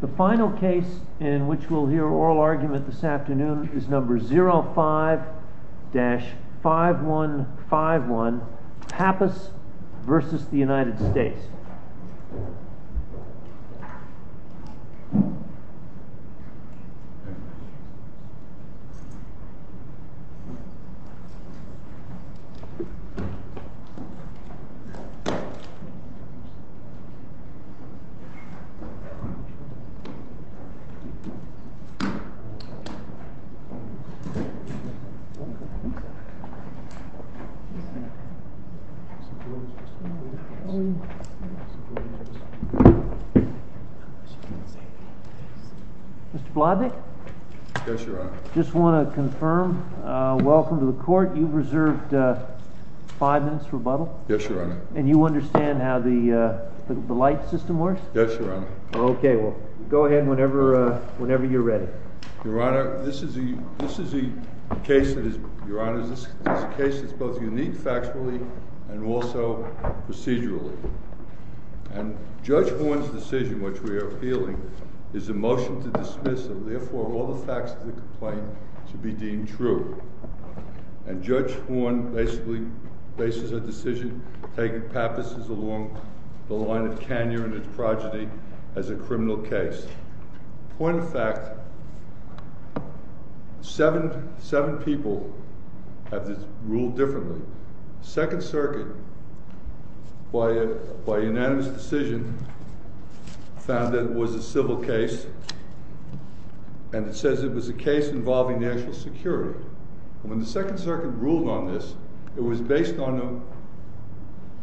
The final case in which we'll hear oral argument this afternoon is No. 05-5151, Pappas v. United States. Mr. Blodnick, I just want to confirm, welcome to the court. You've reserved five minutes for rebuttal? Yes, Your Honor. And you understand how the light system works? Yes, Your Honor. Okay, well, go ahead whenever you're ready. Your Honor, this is a case that is both unique factually and also procedurally. And Judge Horne's decision, which we are appealing, is a motion to dismiss, and therefore all the facts of the complaint should be deemed true. And Judge Horne basically bases her decision, taking Pappas' along the line of Kanye and his progeny, as a criminal case. Point of fact, seven people have ruled differently. Second Circuit, by unanimous decision, found that it was a civil case, and it says it was a case involving national security. And when the Second Circuit ruled on this, it was based on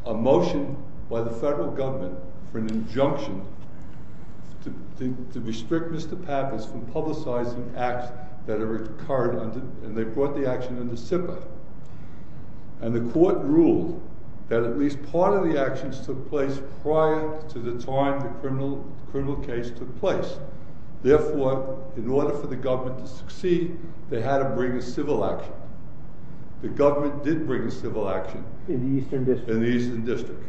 a motion by the federal government for an injunction to restrict Mr. Pappas from publicizing acts that had occurred, and they brought the action under SIPA. And the court ruled that at least part of the actions took place prior to the time the criminal case took place. Therefore, in order for the government to succeed, they had to bring a civil action. The government did bring a civil action. In the Eastern District. In the Eastern District,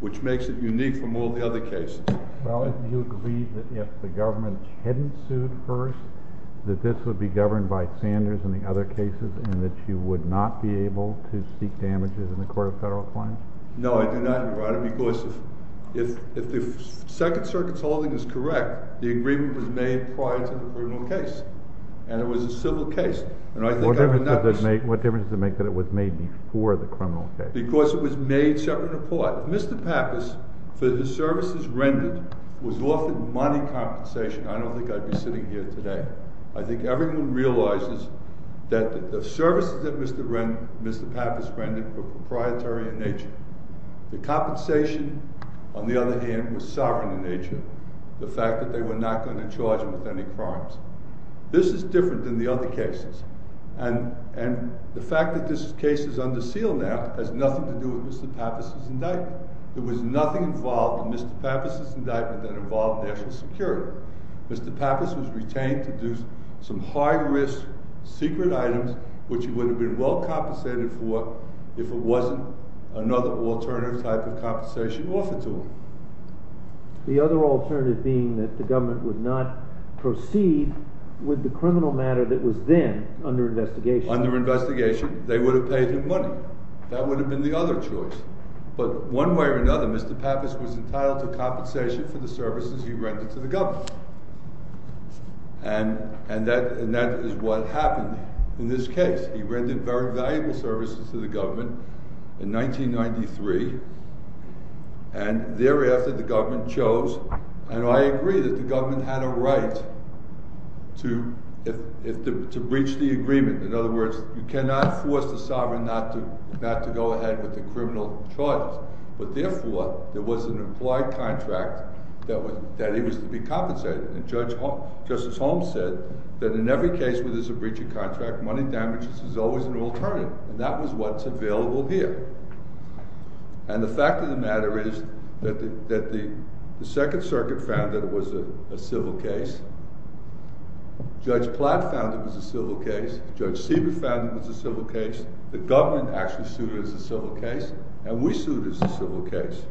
which makes it unique from all the other cases. Well, do you agree that if the government hadn't sued first, that this would be governed by Sanders and the other cases, and that you would not be able to seek damages in the Court of Federal Appliance? No, I do not, Your Honor, because if the Second Circuit's holding is correct, the agreement was made prior to the criminal case. And it was a civil case. What difference does it make that it was made before the criminal case? Because it was made separate and apart. Mr. Pappas, for the services rendered, was offered money compensation. I don't think I'd be sitting here today. I think everyone realizes that the services that Mr. Pappas rendered were proprietary in nature. The compensation, on the other hand, was sovereign in nature. The fact that they were not going to charge him with any crimes. This is different than the other cases. And the fact that this case is under seal now has nothing to do with Mr. Pappas' indictment. There was nothing involved in Mr. Pappas' indictment that involved national security. Mr. Pappas was retained to do some high-risk secret items, which he would have been well compensated for if it wasn't another alternative type of compensation offered to him. The other alternative being that the government would not proceed with the criminal matter that was then under investigation. Under investigation, they would have paid him money. That would have been the other choice. But one way or another, Mr. Pappas was entitled to compensation for the services he rendered to the government. And that is what happened in this case. He rendered very valuable services to the government in 1993. And thereafter, the government chose. And I agree that the government had a right to breach the agreement. In other words, you cannot force the sovereign not to go ahead with the criminal charges. But therefore, there was an implied contract that he was to be compensated. And Justice Holmes said that in every case where there's a breach of contract, money damages is always an alternative. And that was what's available here. And the fact of the matter is that the Second Circuit found that it was a civil case. Judge Platt found it was a civil case. Judge Siebert found it was a civil case. The government actually sued it as a civil case. And we sued it as a civil case.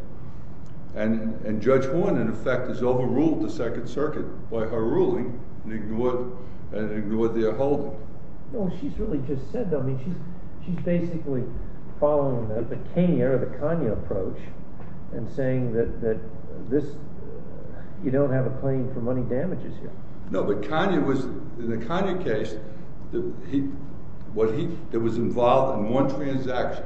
And Judge Horne, in effect, has overruled the Second Circuit by her ruling and ignored their holding. No, she's really just said that. I mean, she's basically following the Kanye or the Kanye approach and saying that you don't have a claim for money damages here. No, but Kanye was—in the Kanye case, what he—it was involved in one transaction.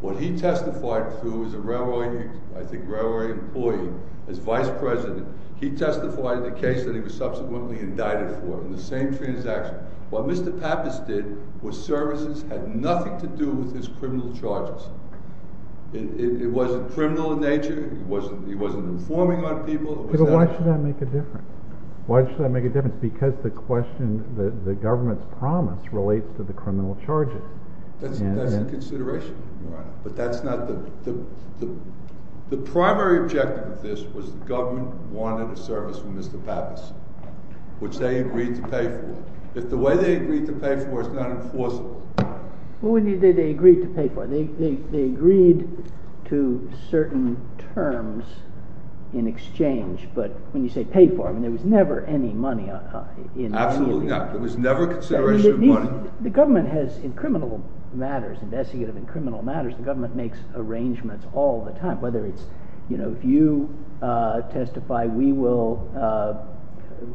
What he testified to as a railway—I think railway employee, as vice president. He testified in the case that he was subsequently indicted for in the same transaction. What Mr. Pappas did was services had nothing to do with his criminal charges. It wasn't criminal in nature. He wasn't informing on people. But why should that make a difference? Why should that make a difference? Because the question—the government's promise relates to the criminal charges. That's in consideration, Your Honor. But that's not the—the primary objective of this was the government wanted a service from Mr. Pappas, which they agreed to pay for. If the way they agreed to pay for it is not enforceable— What would you say they agreed to pay for? They agreed to certain terms in exchange. But when you say paid for, I mean there was never any money in— Absolutely not. There was never consideration of money. The government has—in criminal matters, investigative and criminal matters, the government makes arrangements all the time. Whether it's, you know, if you testify, we will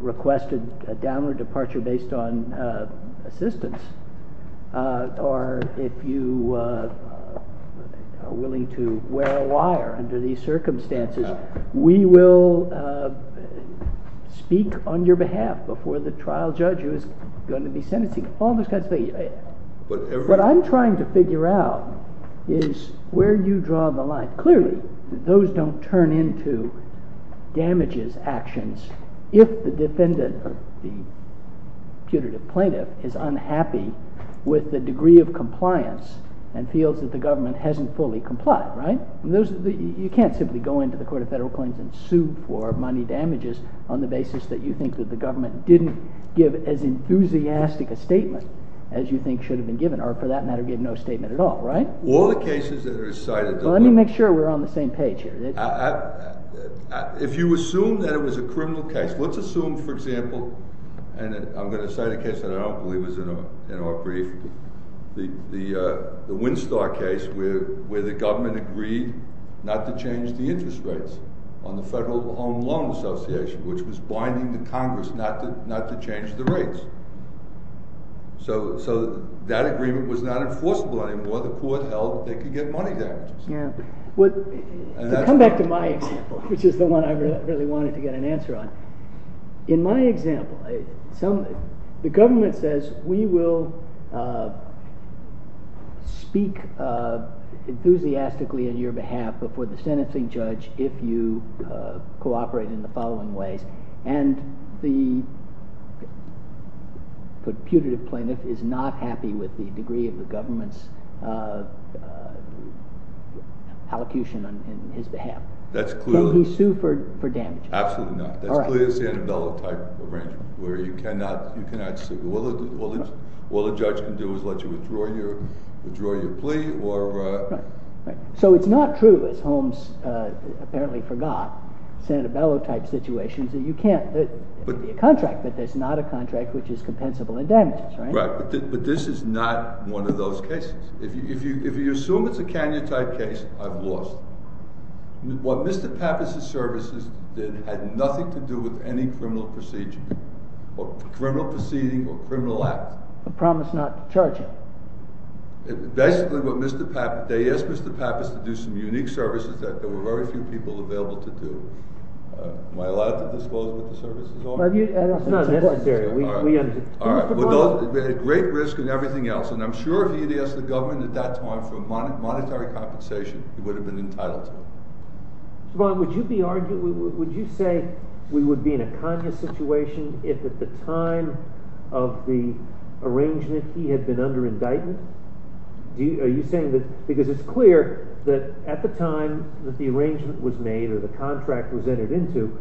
request a downward departure based on assistance. Or if you are willing to wear a wire under these circumstances, we will speak on your behalf before the trial judge who is going to be sentencing. All those kinds of things. What I'm trying to figure out is where you draw the line. Clearly, those don't turn into damages actions if the defendant or the putative plaintiff is unhappy with the degree of compliance and feels that the government hasn't fully complied, right? You can't simply go into the Court of Federal Claims and sue for money damages on the basis that you think that the government didn't give as enthusiastic a statement as you think should have been given, or for that matter, give no statement at all, right? All the cases that are cited— Let me make sure we're on the same page here. If you assume that it was a criminal case, let's assume, for example—and I'm going to cite a case that I don't believe is in our brief—the Winstar case where the government agreed not to change the interest rates on the Federal Home Loan Association, which was binding the Congress not to change the rates. So that agreement was not enforceable anymore. The court held they could get money damages. To come back to my example, which is the one I really wanted to get an answer on, in my example, the government says we will speak enthusiastically on your behalf before the sentencing judge if you cooperate in the following ways. And the putative plaintiff is not happy with the degree of the government's allocution on his behalf. Can he sue for damages? Absolutely not. All right. That's clearly a Sanabella-type arrangement where you cannot sue. All the judge can do is let you withdraw your plea or— So it's not true, as Holmes apparently forgot, Sanabella-type situations that you can't. It would be a contract, but it's not a contract which is compensable in damages, right? Right. But this is not one of those cases. If you assume it's a Kanye-type case, I've lost. What Mr. Pappas' services did had nothing to do with any criminal proceeding or criminal act. A promise not to charge him. Basically, what Mr. Pappas—they asked Mr. Pappas to do some unique services that there were very few people available to do. Am I allowed to disclose what the services are? It's not necessary. All right. We understand. All right. But those—great risk and everything else, and I'm sure if he had asked the government at that time for monetary compensation, he would have been entitled to it. Mr. Bond, would you be—would you say we would be in a Kanye situation if at the time of the arrangement he had been under indictment? Are you saying that—because it's clear that at the time that the arrangement was made or the contract was entered into,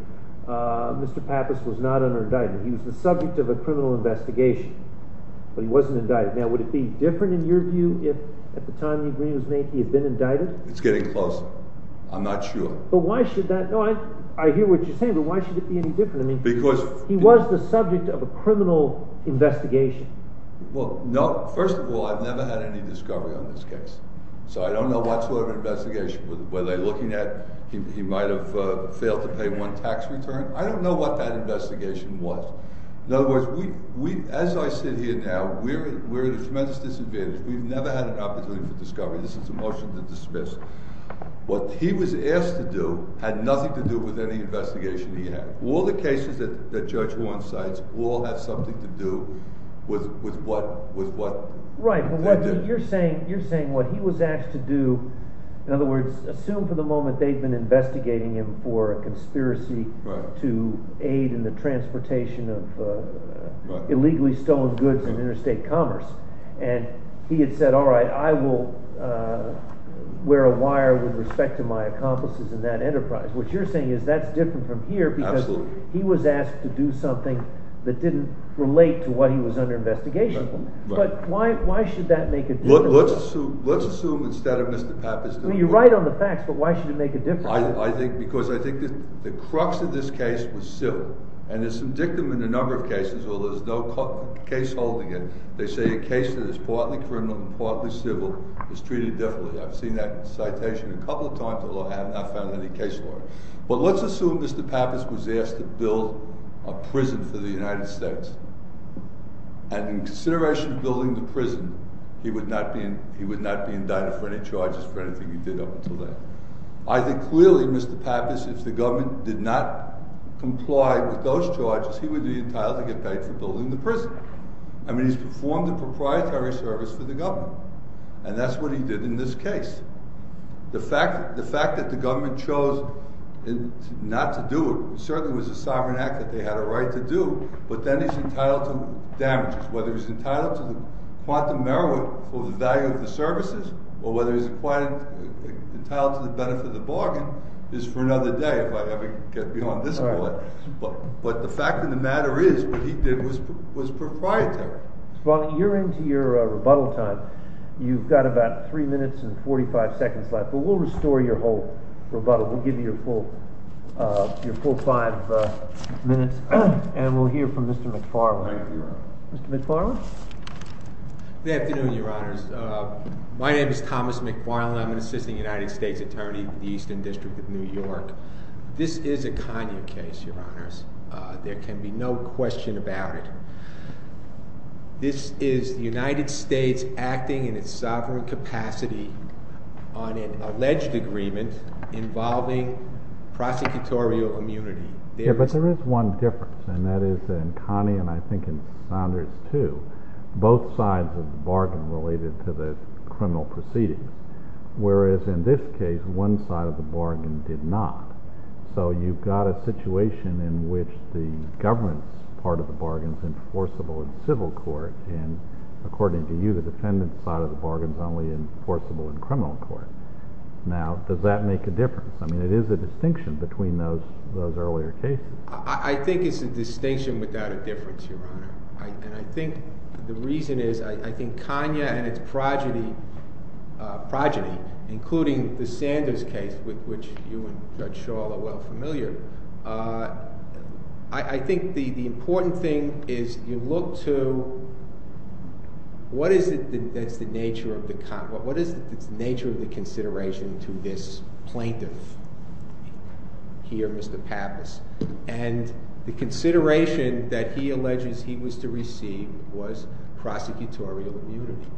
Mr. Pappas was not under indictment. He was the subject of a criminal investigation, but he wasn't indicted. Now, would it be different in your view if at the time the agreement was made he had been indicted? It's getting closer. I'm not sure. But why should that—no, I hear what you're saying, but why should it be any different? Because— I mean, he was the subject of a criminal investigation. Well, no. First of all, I've never had any discovery on this case, so I don't know what sort of investigation. Were they looking at he might have failed to pay one tax return? I don't know what that investigation was. In other words, we—as I sit here now, we're at a tremendous disadvantage. We've never had an opportunity for discovery. This is a motion to dismiss. What he was asked to do had nothing to do with any investigation he had. All the cases that Judge Warren cites all have something to do with what they did. Right, but you're saying what he was asked to do—in other words, assume for the moment they've been investigating him for a conspiracy to aid in the transportation of illegally stolen goods in interstate commerce. And he had said, all right, I will wear a wire with respect to my accomplices in that enterprise. What you're saying is that's different from here because he was asked to do something that didn't relate to what he was under investigation. But why should that make a difference? Let's assume instead of Mr. Pappas— I mean, you're right on the facts, but why should it make a difference? Because I think the crux of this case was civil. And there's some dictum in a number of cases where there's no case holding it. They say a case that is partly criminal and partly civil is treated differently. I've seen that citation a couple of times, although I have not found any case lawyer. But let's assume Mr. Pappas was asked to build a prison for the United States. And in consideration of building the prison, he would not be indicted for any charges for anything he did up until then. I think clearly, Mr. Pappas, if the government did not comply with those charges, he would be entitled to get paid for building the prison. I mean, he's performed a proprietary service for the government. And that's what he did in this case. The fact that the government chose not to do it certainly was a sovereign act that they had a right to do. But then he's entitled to damages, whether he's entitled to the quantum merit for the value of the services or whether he's entitled to the benefit of the bargain is for another day, if I ever get beyond this point. But the fact of the matter is what he did was proprietary. Mr. Bartlett, you're into your rebuttal time. You've got about three minutes and 45 seconds left, but we'll restore your whole rebuttal. We'll give you your full five minutes, and we'll hear from Mr. McFarland. Thank you, Your Honor. Mr. McFarland? Good afternoon, Your Honors. My name is Thomas McFarland. I'm an assistant United States attorney for the Eastern District of New York. This is a Kanye case, Your Honors. There can be no question about it. This is the United States acting in its sovereign capacity on an alleged agreement involving prosecutorial immunity. Yeah, but there is one difference, and that is in Kanye and I think in Saunders, too, both sides of the bargain related to the criminal proceedings, whereas in this case, one side of the bargain did not. So you've got a situation in which the government's part of the bargain is enforceable in civil court, and according to you, the defendant's part of the bargain is only enforceable in criminal court. Now, does that make a difference? I mean, it is a distinction between those earlier cases. I think it's a distinction without a difference, Your Honor. And I think the reason is I think Kanye and his progeny, including the Sanders case, which you and Judge Schall are well familiar, I think the important thing is you look to what is it that's the nature of the consideration to this plaintiff here, Mr. Pappas, and the consideration that he alleges he was to receive was prosecutorial immunity,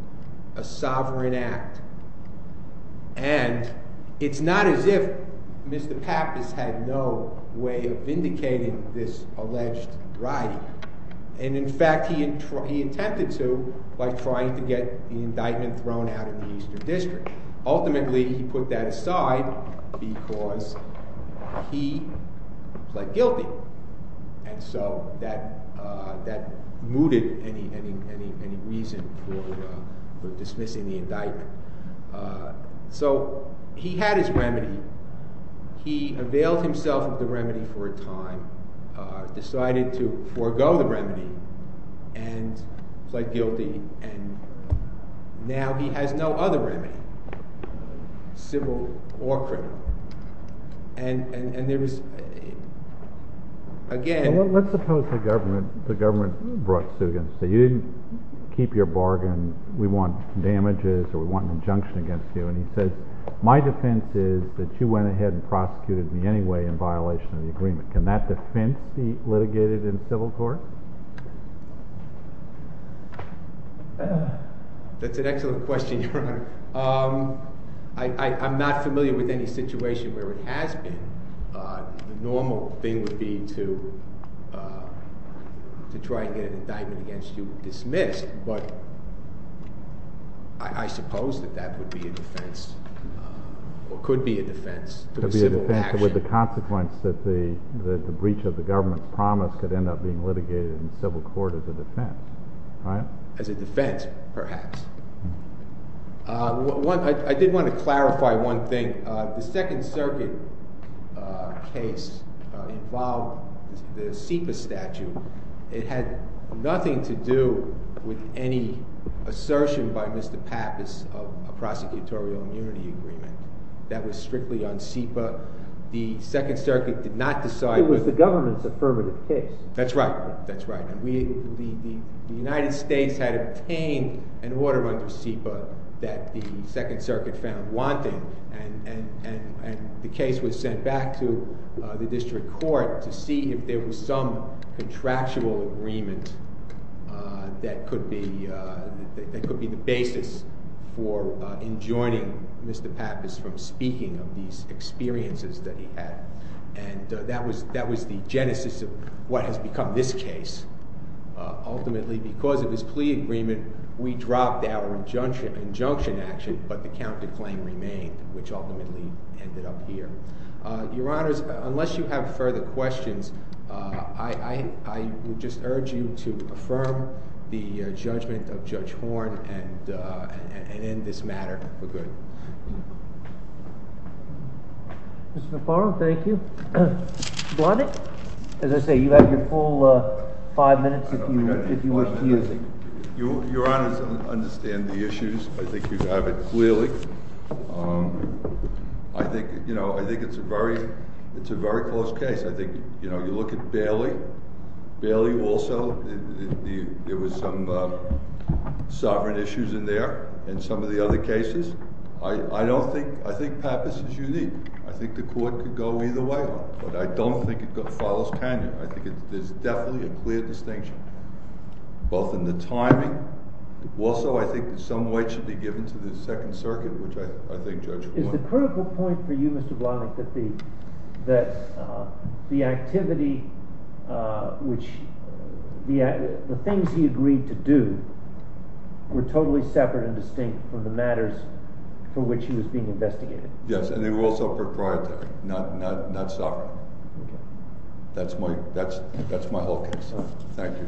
a sovereign act. And it's not as if Mr. Pappas had no way of vindicating this alleged rioting. And in fact, he attempted to by trying to get the indictment thrown out of the Eastern District. Ultimately, he put that aside because he pled guilty. And so that mooted any reason for dismissing the indictment. He availed himself of the remedy for a time, decided to forego the remedy and pled guilty. And now he has no other remedy, civil or criminal. Let's suppose the government brought Sugan and said you didn't keep your bargain. We want damages or we want an injunction against you. And he says my defense is that you went ahead and prosecuted me anyway in violation of the agreement. Can that defense be litigated in civil court? That's an excellent question, Your Honor. I'm not familiar with any situation where it has been. The normal thing would be to try and get an indictment against you dismissed. But I suppose that that would be a defense or could be a defense. Could be a defense with the consequence that the breach of the government's promise could end up being litigated in civil court as a defense, right? As a defense, perhaps. I did want to clarify one thing. The Second Circuit case involved the SEPA statute. It had nothing to do with any assertion by Mr. Pappas of a prosecutorial immunity agreement. That was strictly on SEPA. The Second Circuit did not decide. It was the government's affirmative case. That's right. The United States had obtained an order under SEPA that the Second Circuit found wanting. And the case was sent back to the district court to see if there was some contractual agreement that could be the basis for enjoining Mr. Pappas from speaking of these experiences that he had. And that was the genesis of what has become this case. Ultimately, because of his plea agreement, we dropped our injunction action, but the counterclaim remained, which ultimately ended up here. Your Honors, unless you have further questions, I would just urge you to affirm the judgment of Judge Horn and end this matter for good. Mr. Farrell, thank you. Blondick, as I say, you have your full five minutes if you wish to use it. Your Honors, I understand the issues. I think you have it clearly. I think it's a very close case. I think you look at Bailey. Bailey also, there were some sovereign issues in there in some of the other cases. I don't think—I think Pappas is unique. I think the court could go either way, but I don't think it follows Kanye. I think there's definitely a clear distinction, both in the timing. Also, I think some weight should be given to the Second Circuit, which I think Judge Horn— Is the critical point for you, Mr. Blondick, that the activity which—the things he agreed to do were totally separate and distinct from the matters for which he was being investigated? Yes, and they were also proprietary, not sovereign. That's my whole case. Thank you.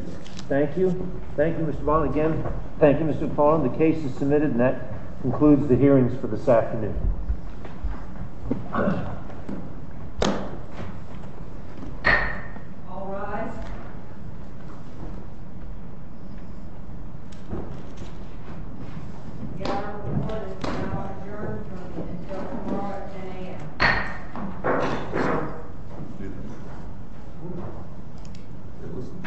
Thank you. Thank you, Mr. Blondick. Again, thank you, Mr. McFarland. The case is submitted, and that concludes the hearings for this afternoon. All rise. The hour of the court is now adjourned until tomorrow at 10 a.m.